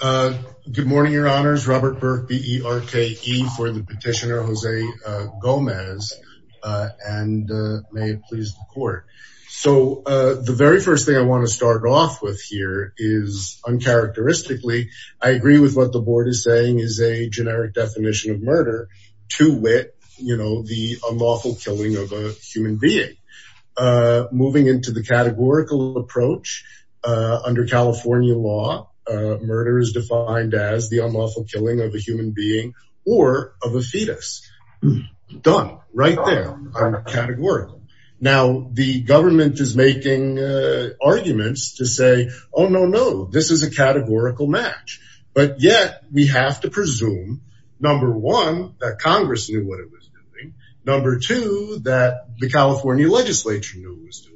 Good morning, your honors. Robert Burke, B-E-R-K-E for the petitioner, Jose Gomez, and may it please the court. So, the very first thing I want to start off with here is, uncharacteristically, I agree with what the board is saying is a generic definition of murder, to wit, you know, the unlawful killing of a human being. Moving into the categorical approach, under California law, murder is defined as the unlawful killing of a human being or of a fetus. Done, right there, categorical. Now, the government is making arguments to say, oh no, no, this is a categorical match. But yet, we have to presume, number one, that Congress knew what it was doing. Number two, that the California legislature knew what it was doing.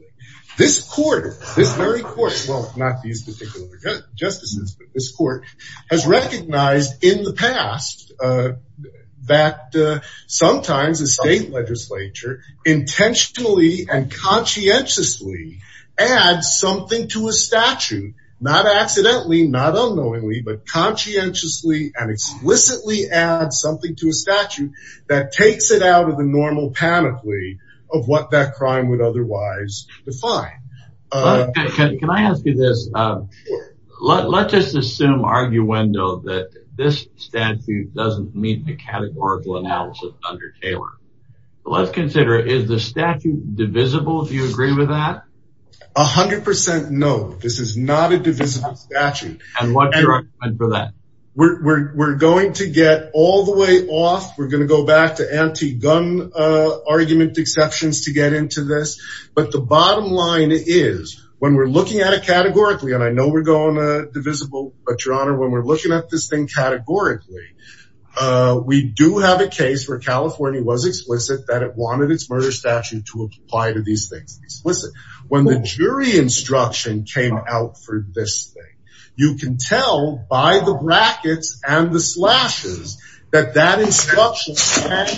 This court, this very court, well, not these particular justices, but this court, has recognized in the past that sometimes a state legislature intentionally and conscientiously adds something to a statute, not accidentally, not unknowingly, but conscientiously and explicitly adds something to a statute that takes it out of the normal panoply of what that crime would otherwise define. Can I ask you this? Let's just assume, arguendo, that this statute doesn't meet the categorical analysis under Taylor. Let's consider, is the statute divisible? Do you agree with that? 100% no. This is not a divisible statute. And what's your argument for that? We're going to get all the way off. We're going to go back to anti-gun argument exceptions to get into this. But the bottom line is, when we're looking at it categorically, and I know we're going divisible, but your honor, when we're looking at this thing categorically, we do have a case where California was explicit that it wanted its murder statute to apply to these things. When the jury instruction came out for this thing, you can tell by the brackets and the slashes that that instruction can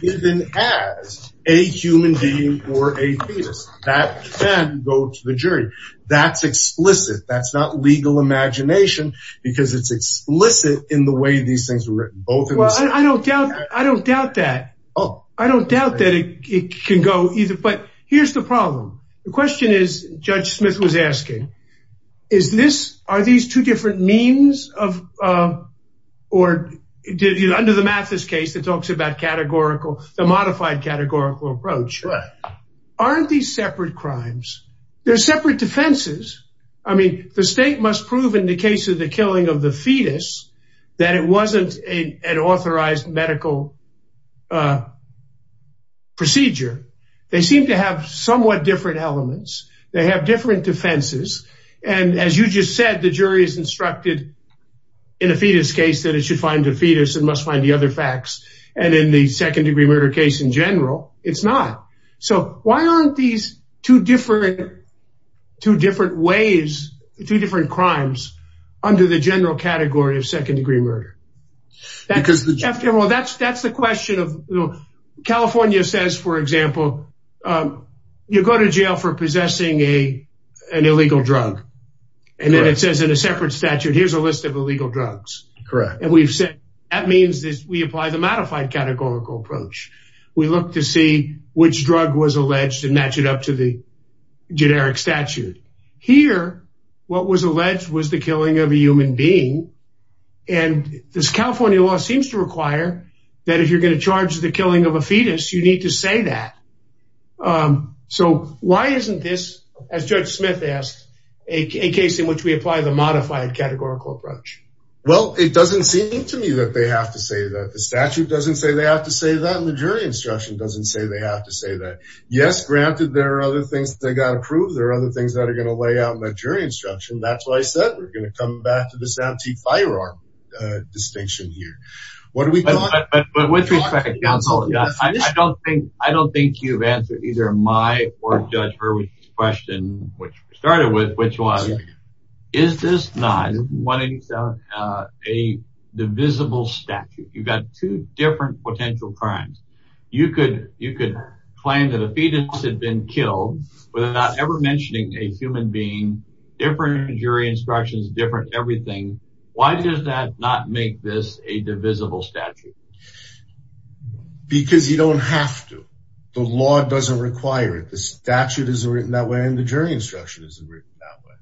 be given as a human being or a fetus. That can go to the jury. That's explicit. That's not legal imagination because it's explicit in the way these things were written. I don't doubt that. I don't doubt that it can go either. But here's the problem. The question is, Judge Smith was asking, are these two different means of, or under the Mathis case that talks about categorical, the modified categorical approach, aren't these separate crimes? They're separate defenses. I mean, the state must prove in the case of the killing of the fetus that it wasn't an authorized medical procedure. They seem to have somewhat different elements. They have different defenses. And as you just said, the jury is instructed in a fetus case that it should find a fetus and must find the other facts. And in the second degree murder case in general, it's not. So why aren't these two different ways, two different crimes under the general category of second degree murder? That's the question. California says, for example, you go to jail for possessing an illegal drug. And then it says in a separate statute, here's a list of illegal drugs. Correct. And we've said that means that we apply the modified categorical approach. We look to see which drug was alleged and match it up to the generic statute here. What was alleged was the killing of a human being. And this California law seems to require that if you're going to charge the killing of a fetus, you need to say that. So why isn't this, as Judge Smith asked, a case in which we apply the modified categorical approach? Well, it doesn't seem to me that they have to say that the statute doesn't say they have to say that the jury instruction doesn't say they have to say that. Yes. Granted, there are other things they got to prove. There are other things that are going to lay out my jury instruction. That's why I said we're going to come back to this antique firearm distinction here. But with respect, counsel, I don't think I don't think you've answered either my or Judge Hurwicz's question, which we started with, which was, is this not a divisible statute? You've got two different potential crimes. You could you could claim that a fetus had been killed without ever mentioning a human being. Different jury instructions, different everything. Why does that not make this a divisible statute? Because you don't have to. The law doesn't require it. The statute isn't written that way and the jury instruction isn't written that way.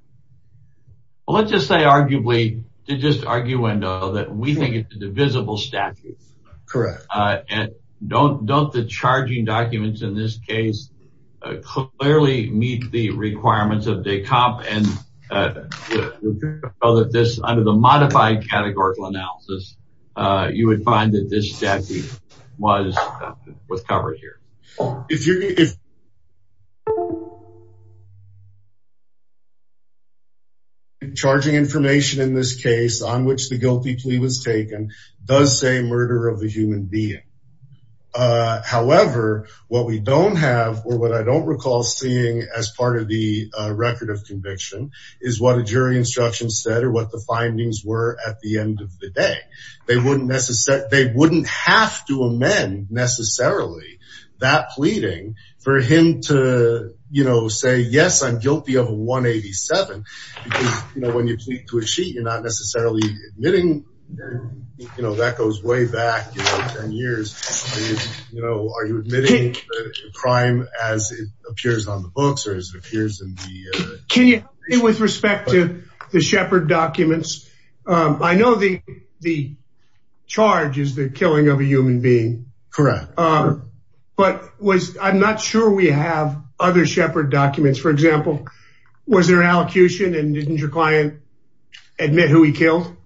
Well, let's just say arguably to just argue that we think it's a divisible statute. Correct. And don't don't the charging documents in this case clearly meet the requirements of DECOP? And so that this under the modified categorical analysis, you would find that this statute was covered here. If you're. Charging information in this case on which the guilty plea was taken does say murder of a human being. However, what we don't have or what I don't recall seeing as part of the record of conviction is what a jury instruction said or what the findings were at the end of the day. They wouldn't necessarily they wouldn't have to amend necessarily that pleading for him to, you know, say, yes, I'm guilty of 187. You know, when you plead to a sheet, you're not necessarily admitting, you know, that goes way back 10 years. You know, are you admitting crime as it appears on the books or as it appears in the. Can you say with respect to the Shepard documents? I know the the charge is the killing of a human being. Correct. But was I'm not sure we have other Shepard documents, for example. Was there an allocution and didn't your client admit who he killed?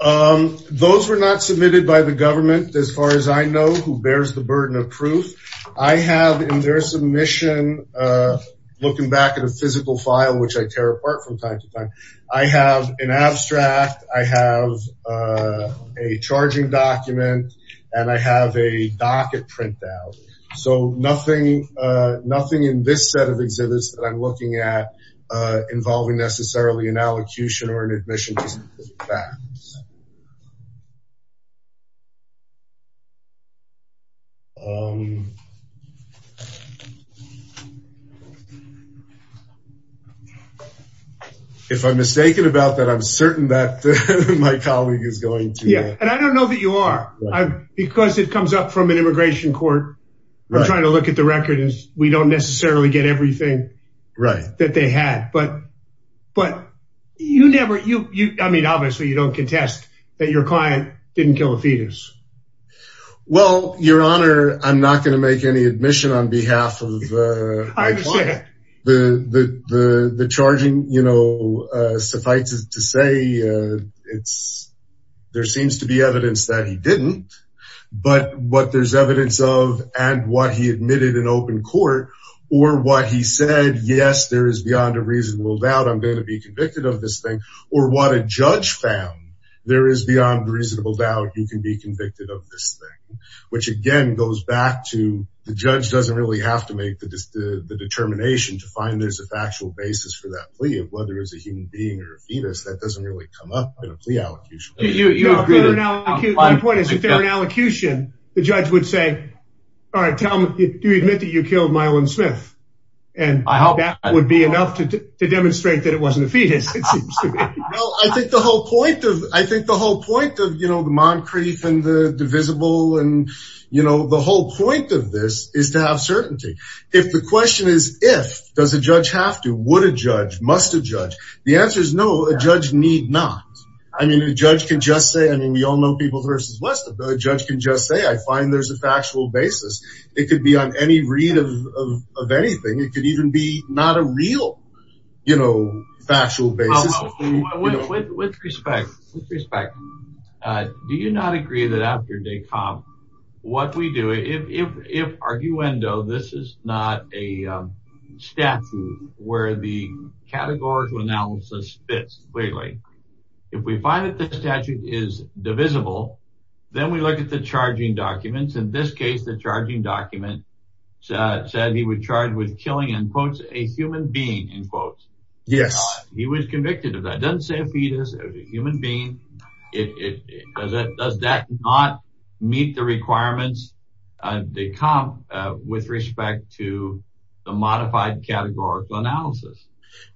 Those were not submitted by the government. As far as I know, who bears the burden of proof I have in their submission, looking back at a physical file, which I tear apart from time to time. I have an abstract. I have a charging document and I have a docket printout. So nothing, nothing in this set of exhibits that I'm looking at involving necessarily an allocution or an admission. If I'm mistaken about that, I'm certain that my colleague is going to. And I don't know that you are, because it comes up from an immigration court. I'm trying to look at the record is we don't necessarily get everything right that they had. But but you never you. I mean, obviously, you don't contest that your client didn't kill a fetus. Well, your honor, I'm not going to make any admission on behalf of my client. The the the charging, you know, suffices to say it's there seems to be evidence that he didn't. But what there's evidence of and what he admitted in open court or what he said, yes, there is beyond a reasonable doubt I'm going to be convicted of this thing. Or what a judge found. There is beyond a reasonable doubt you can be convicted of this thing, which, again, goes back to the judge doesn't really have to make the determination to find there's a factual basis for that plea of whether it's a human being or a fetus that doesn't really come up in a plea allocution. You know, the point is, if they're an allocution, the judge would say, all right, tell me, do you admit that you killed Mylon Smith? And I hope that would be enough to demonstrate that it wasn't a fetus. I think the whole point of I think the whole point of, you know, the Moncrief and the divisible and, you know, the whole point of this is to have certainty. If the question is, if does a judge have to, would a judge must a judge? The answer is no. A judge need not. I mean, a judge can just say, I mean, we all know people versus less than a judge can just say, I find there's a factual basis. It could be on any read of anything. It could even be not a real, you know, factual basis. With respect, with respect, do you not agree that after they come, what we do, if, if, if arguendo, this is not a statute where the categorical analysis fits. Lately, if we find that the statute is divisible, then we look at the charging documents. In this case, the charging document said he would charge with killing and quotes a human being in quotes. Yes, he was convicted of that doesn't say a fetus as a human being. It does that not meet the requirements. They come with respect to a modified categorical analysis.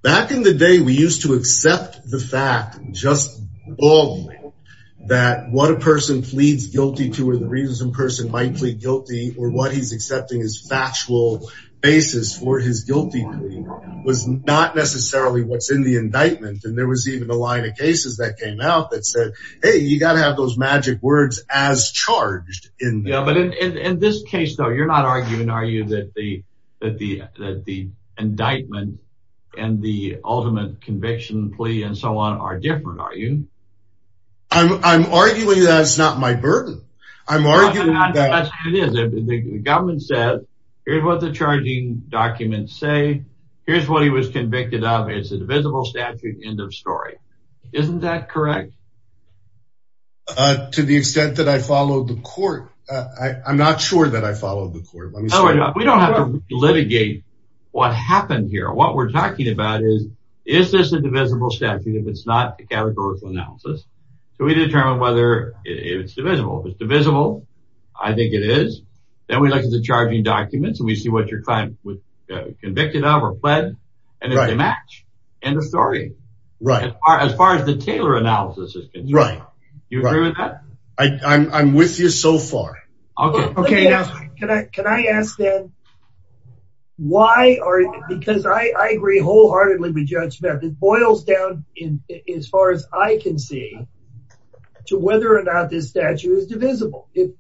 Back in the day, we used to accept the fact just that what a person pleads guilty to or the reason some person might plead guilty or what he's accepting is factual basis for his guilty plea. Was not necessarily what's in the indictment. And there was even a line of cases that came out that said, Hey, you got to have those magic words as charged in. But in this case, though, you're not arguing, are you, that the, that the, that the indictment and the ultimate conviction plea and so on are different. Are you I'm, I'm arguing that it's not my burden. I'm arguing that the government said, here's what the charging documents say. Here's what he was convicted of. It's a divisible statute. End of story. Isn't that correct? To the extent that I followed the court, I'm not sure that I followed the court. We don't have to litigate what happened here. What we're talking about is, is this a divisible statute? If it's not a categorical analysis, can we determine whether it's divisible? If it's divisible, I think it is. Then we look at the charging documents and we see what your client was convicted of or pled. And it's a match. End of story. Right. As far as the Taylor analysis is concerned. Right. Do you agree with that? I, I'm, I'm with you so far. Okay. Okay. Now, can I, can I ask then, why are, because I, I agree wholeheartedly with Judge Smith. It boils down in as far as I can see to whether or not this statute is divisible. If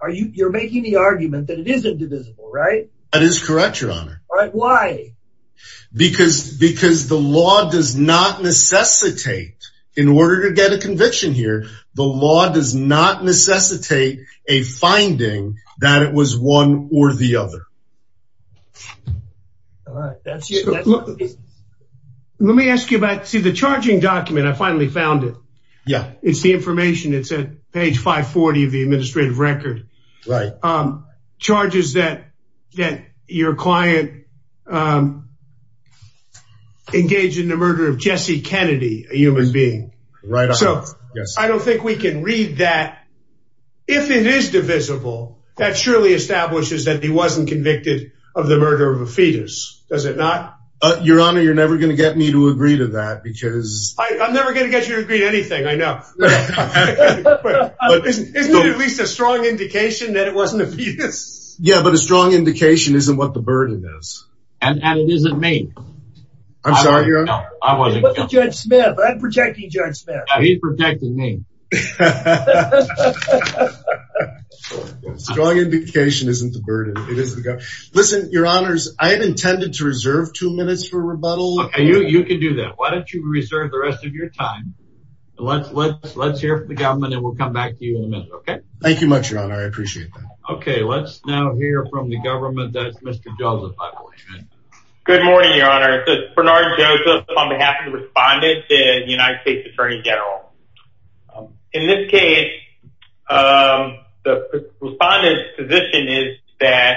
are you, you're making the argument that it isn't divisible, right? That is correct. Your honor. Why? Because, because the law does not necessitate in order to get a conviction here. The law does not necessitate a finding that it was one or the other. All right. Let me ask you about, see the charging document. I finally found it. Yeah. It's the information. It's at page 540 of the administrative record. Right. Charges that, that your client engaged in the murder of Jesse Kennedy, a human being. Right. So I don't think we can read that. If it is divisible, that surely establishes that he wasn't convicted of the murder of a fetus. Does it not? Your honor, you're never going to get me to agree to that because... I'm never going to get you to agree to anything. I know. Isn't it at least a strong indication that it wasn't a fetus? Yeah, but a strong indication isn't what the burden is. And it isn't me. I'm sorry, your honor. No, I wasn't. It was Judge Smith. I'm protecting Judge Smith. No, he's protecting me. Strong indication isn't the burden. It is the... Listen, your honors, I had intended to reserve two minutes for rebuttal. Okay, you can do that. Why don't you reserve the rest of your time. Let's hear from the government and we'll come back to you in a minute, okay? Thank you much, your honor. I appreciate that. Okay, let's now hear from the government. That's Mr. Joseph, I believe. Good morning, your honor. Bernard Joseph on behalf of the respondents and United States Attorney General. In this case, the respondent's position is that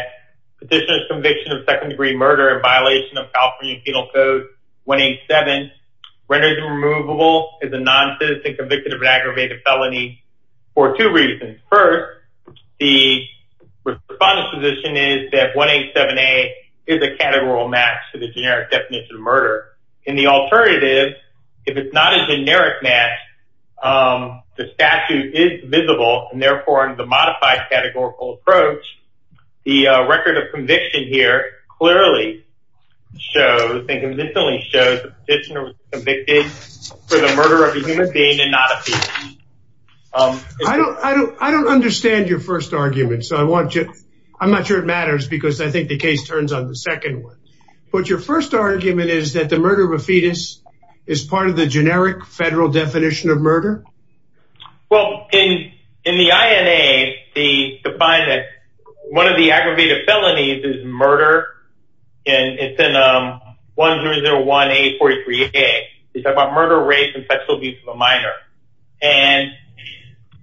petitioner's conviction of second-degree murder in violation of California Penal Code 187, renders him removable as a non-citizen convicted of an aggravated felony for two reasons. First, the respondent's position is that 187A is a categorical match to the generic definition of murder. In the alternative, if it's not a generic match, the statute is visible. And therefore, in the modified categorical approach, the record of conviction here clearly shows and convincingly shows that the petitioner was convicted for the murder of a human being and not a person. I don't understand your first argument, so I want you... I'm not sure it matters because I think the case turns on the second one. But your first argument is that the murder of a fetus is part of the generic federal definition of murder? Well, in the INA, they define that one of the aggravated felonies is murder. And it's in 1001A43A. It's about murder, rape, and sexual abuse of a minor. And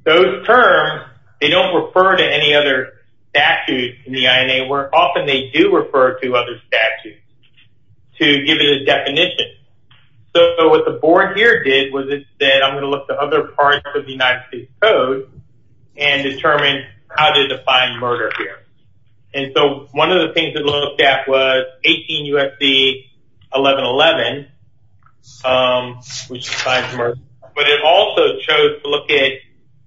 those terms, they don't refer to any other statute in the INA. Often they do refer to other statutes to give it a definition. So what the board here did was it said, I'm going to look to other parts of the United States Code and determine how to define murder here. And so one of the things it looked at was 18 U.S.C. 1111, which defines murder. But it also chose to look at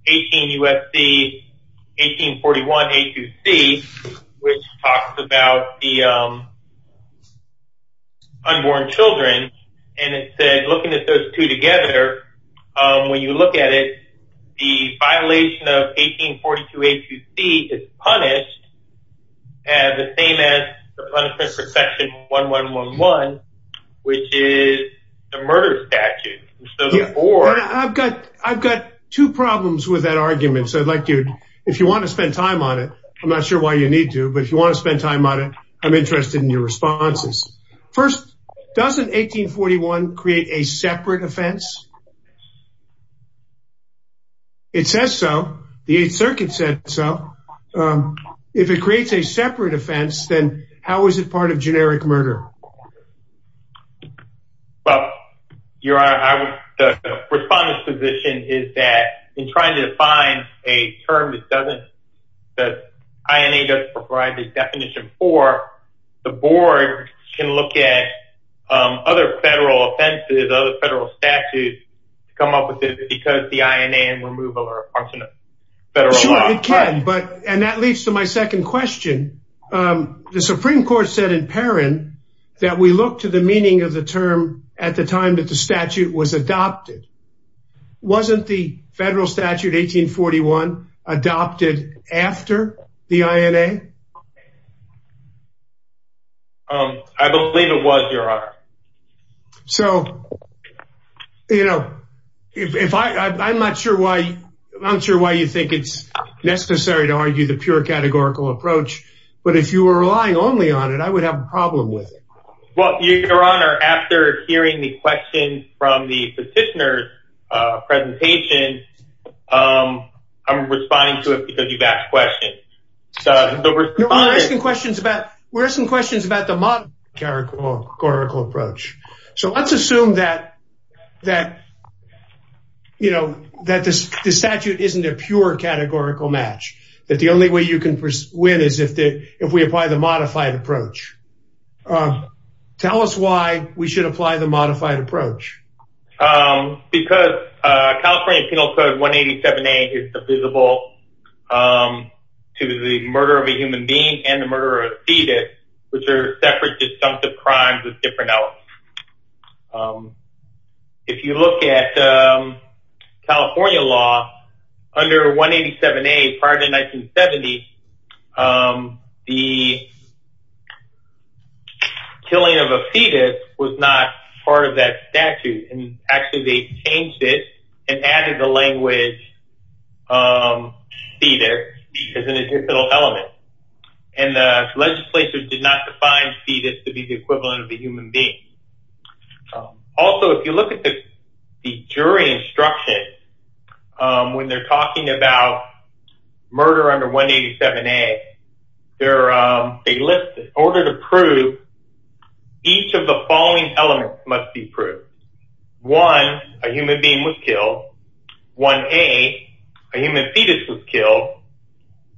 18 U.S.C. 1841A2C, which talks about the unborn children. And it said, looking at those two together, when you look at it, the violation of 1842A2C is punished, the same as the punishment for Section 1111, which is the murder statute. I've got two problems with that argument. So if you want to spend time on it, I'm not sure why you need to. But if you want to spend time on it, I'm interested in your responses. First, doesn't 1841 create a separate offense? It says so. The Eighth Circuit said so. If it creates a separate offense, then how is it part of generic murder? Well, Your Honor, the respondent's position is that in trying to define a term that doesn't, that INA doesn't provide this definition for, the board can look at other federal offenses, other federal statutes to come up with it because the INA and removal are a function of federal law. Sure, it can. And that leads to my second question. The Supreme Court said in Perrin that we look to the meaning of the term at the time that the statute was adopted. Wasn't the federal statute 1841 adopted after the INA? So, you know, I'm not sure why you think it's necessary to argue the pure categorical approach. But if you were relying only on it, I would have a problem with it. Well, Your Honor, after hearing the question from the petitioner's presentation, I'm responding to it because you've asked questions. We're asking questions about the modern categorical approach. So let's assume that, you know, that this statute isn't a pure categorical match, that the only way you can win is if we apply the modified approach. Tell us why we should apply the modified approach. Because California Penal Code 187A is divisible to the murder of a human being and the murder of a fetus, which are separate disjunctive crimes with different elements. If you look at California law under 187A prior to 1970, the killing of a fetus was not part of that statute. And actually they changed it and added the language fetus as an additional element. And the legislature did not define fetus to be the equivalent of a human being. Also, if you look at the jury instruction, when they're talking about murder under 187A, they list in order to prove each of the following elements must be proved. One, a human being was killed. One, a human fetus was killed.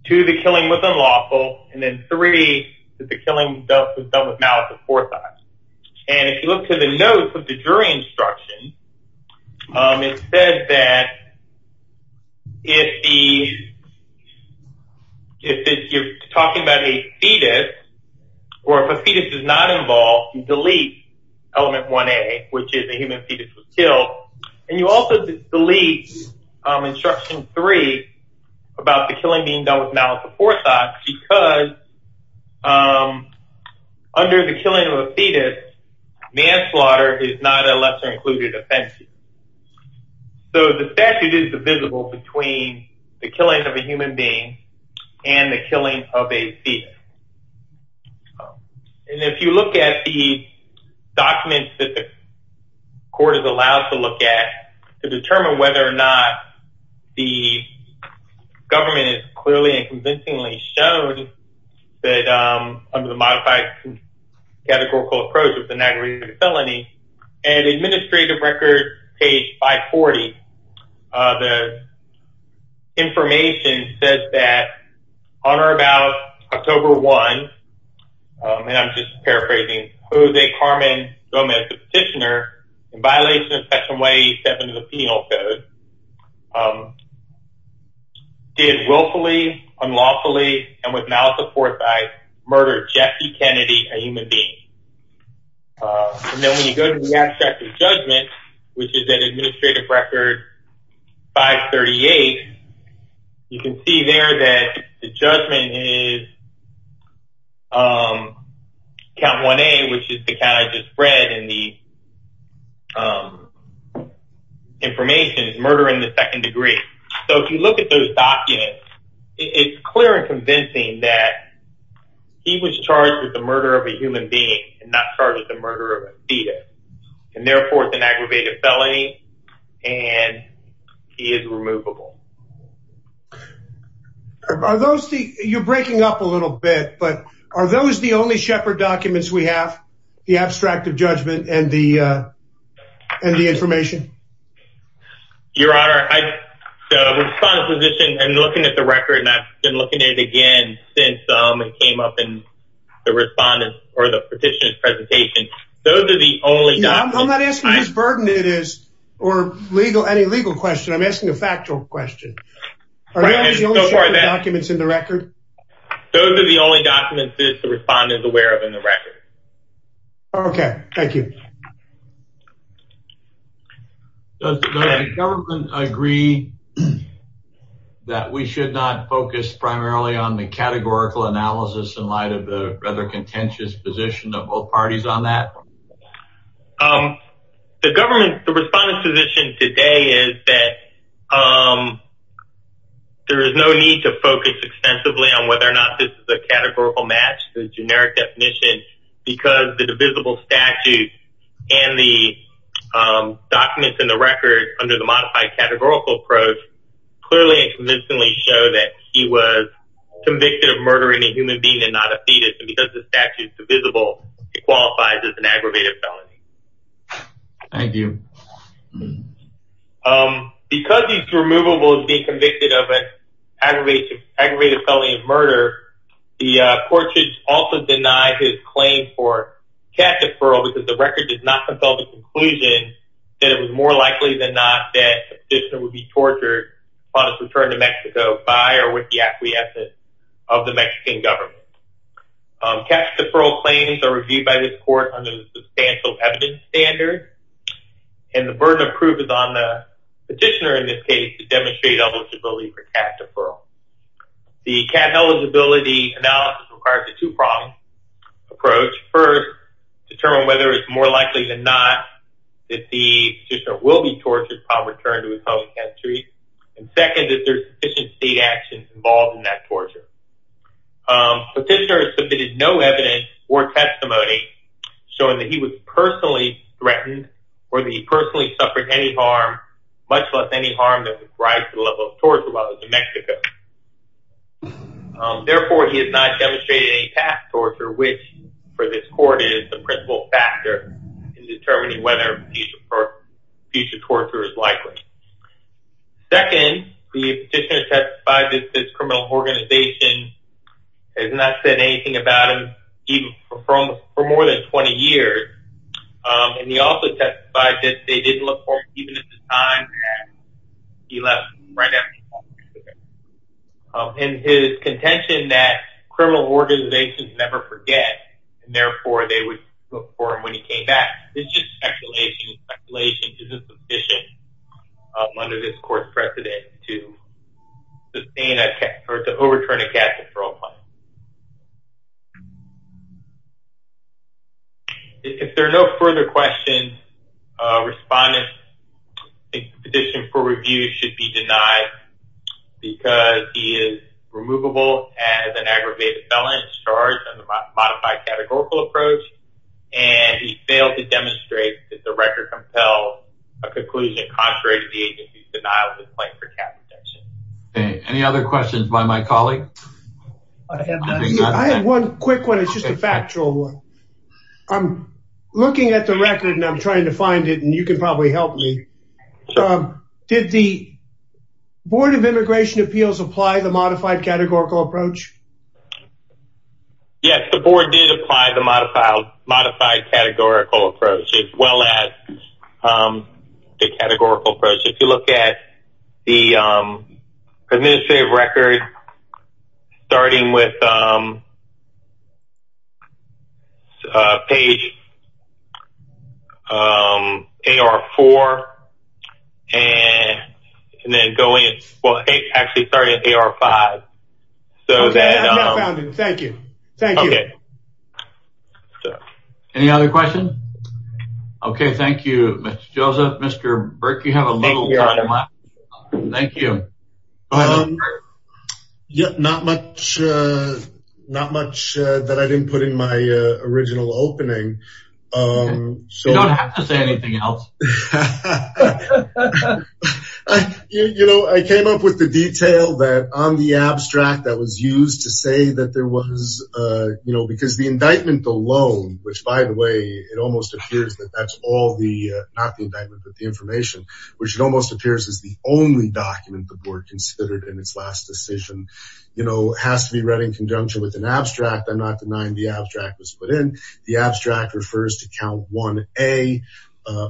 Two, the killing was unlawful. And then three, that the killing was done with malice of forethought. And if you look to the notes of the jury instruction, it says that if you're talking about a fetus, or if a fetus is not involved, you delete element 1A, which is a human fetus was killed. And you also delete instruction three about the killing being done with malice of forethought because under the killing of a fetus, manslaughter is not a lesser included offense. So the statute is divisible between the killing of a human being and the killing of a fetus. And if you look at the documents that the court is allowed to look at, to determine whether or not the government has clearly and convincingly showed that under the modified categorical approach, it's an aggravated felony, at administrative record page 540, the information says that on or about October 1, and I'm just paraphrasing, Jose Carmen Gomez, the petitioner, in violation of Section 187 of the Penal Code, did willfully, unlawfully, and with malice of forethought, murder Jesse Kennedy, a human being. And then when you go to the abstract of judgment, which is at administrative record 538, you can see there that the judgment is Count 1A, which is the kind I just read, and the information is murder in the second degree. So if you look at those documents, it's clear and convincing that he was charged with the murder of a human being and not charged with the murder of a fetus. And therefore, it's an aggravated felony and he is removable. Are those the, you're breaking up a little bit, but are those the only Shepard documents we have? The abstract of judgment and the information? Your Honor, I, the respondent's position, and looking at the record, and I've been looking at it again since it came up in the respondent's or the petitioner's presentation, those are the only documents. I'm not asking what burden it is or legal, any legal question. I'm asking a factual question. Are those the only Shepard documents in the record? Those are the only documents that the respondent is aware of in the record. Okay, thank you. Does the government agree that we should not focus primarily on the categorical analysis in light of the rather contentious position of both parties on that? The government, the respondent's position today is that there is no need to focus extensively on whether or not this is a categorical match, the generic definition, because the divisible statute and the documents in the record under the modified categorical approach clearly and convincingly show that he was convicted of murdering a human being and not a fetus. And because the statute is divisible, it qualifies as an aggravated felony. Thank you. Because he's removable as being convicted of an aggravated felony of murder, the court should also deny his claim for cash deferral because the record does not compel the conclusion that it was more likely than not that the petitioner would be tortured upon his return to Mexico by or with the acquiescence of the Mexican government. Cash deferral claims are reviewed by this court under the substantial evidence standard, and the burden of proof is on the petitioner in this case to demonstrate eligibility for cash deferral. The cash eligibility analysis requires a two-pronged approach. First, determine whether it's more likely than not that the petitioner will be tortured upon return to his home country, and second, if there's sufficient state action involved in that torture. Petitioner has submitted no evidence or testimony showing that he was personally threatened or that he personally suffered any harm, much less any harm that would rise to the level of torture while he was in Mexico. Therefore, he has not demonstrated any past torture, which for this court is the principal factor in determining whether future torture is likely. Second, the petitioner testified that his criminal organization has not said anything about him even for more than 20 years, and he also testified that they didn't look for him even at the time that he left. And his contention that criminal organizations never forget, and therefore they would look for him when he came back, is just speculation. Speculation isn't sufficient under this court's precedent to overturn a cash deferral claim. If there are no further questions, respondent's petition for review should be denied because he is removable as an aggravated felon, charged under the modified categorical approach, and he failed to demonstrate that the record compels a conclusion contrary to the agency's denial of his claim for capital punishment. Any other questions by my colleague? I have one quick one. It's just a factual one. I'm looking at the record and I'm trying to find it, and you can probably help me. Did the Board of Immigration Appeals apply the modified categorical approach? Yes, the Board did apply the modified categorical approach as well as the categorical approach. If you look at the administrative record, starting with page AR4, and then actually starting at AR5. Okay, I found it. Thank you. Any other questions? Okay, thank you, Mr. Joseph. Mr. Burke, you have a little time. Thank you. Not much that I didn't put in my original opening. You don't have to say anything else. You know, I came up with the detail that on the abstract that was used to say that there was, you know, because the indictment alone, which by the way, it almost appears that that's all the, not the indictment, but the information, which it almost appears is the only document the Board considered in its last decision, you know, has to be read in conjunction with an abstract. I'm not denying the abstract was put in. The abstract refers to count 1A,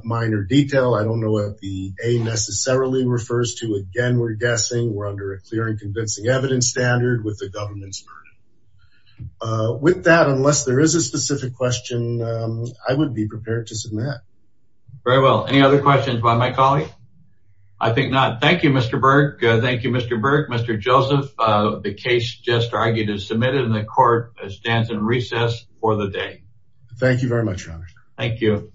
minor detail. I don't know what the A necessarily refers to. Again, we're guessing we're under a clear and convincing evidence standard with the government's burden. With that, unless there is a specific question, I would be prepared to submit. Very well. Any other questions by my colleague? I think not. Thank you, Mr. Burke. Thank you, Mr. Burke. Mr. Joseph, the case just argued is submitted and the court stands in recess for the day. Thank you very much, Your Honor. Thank you.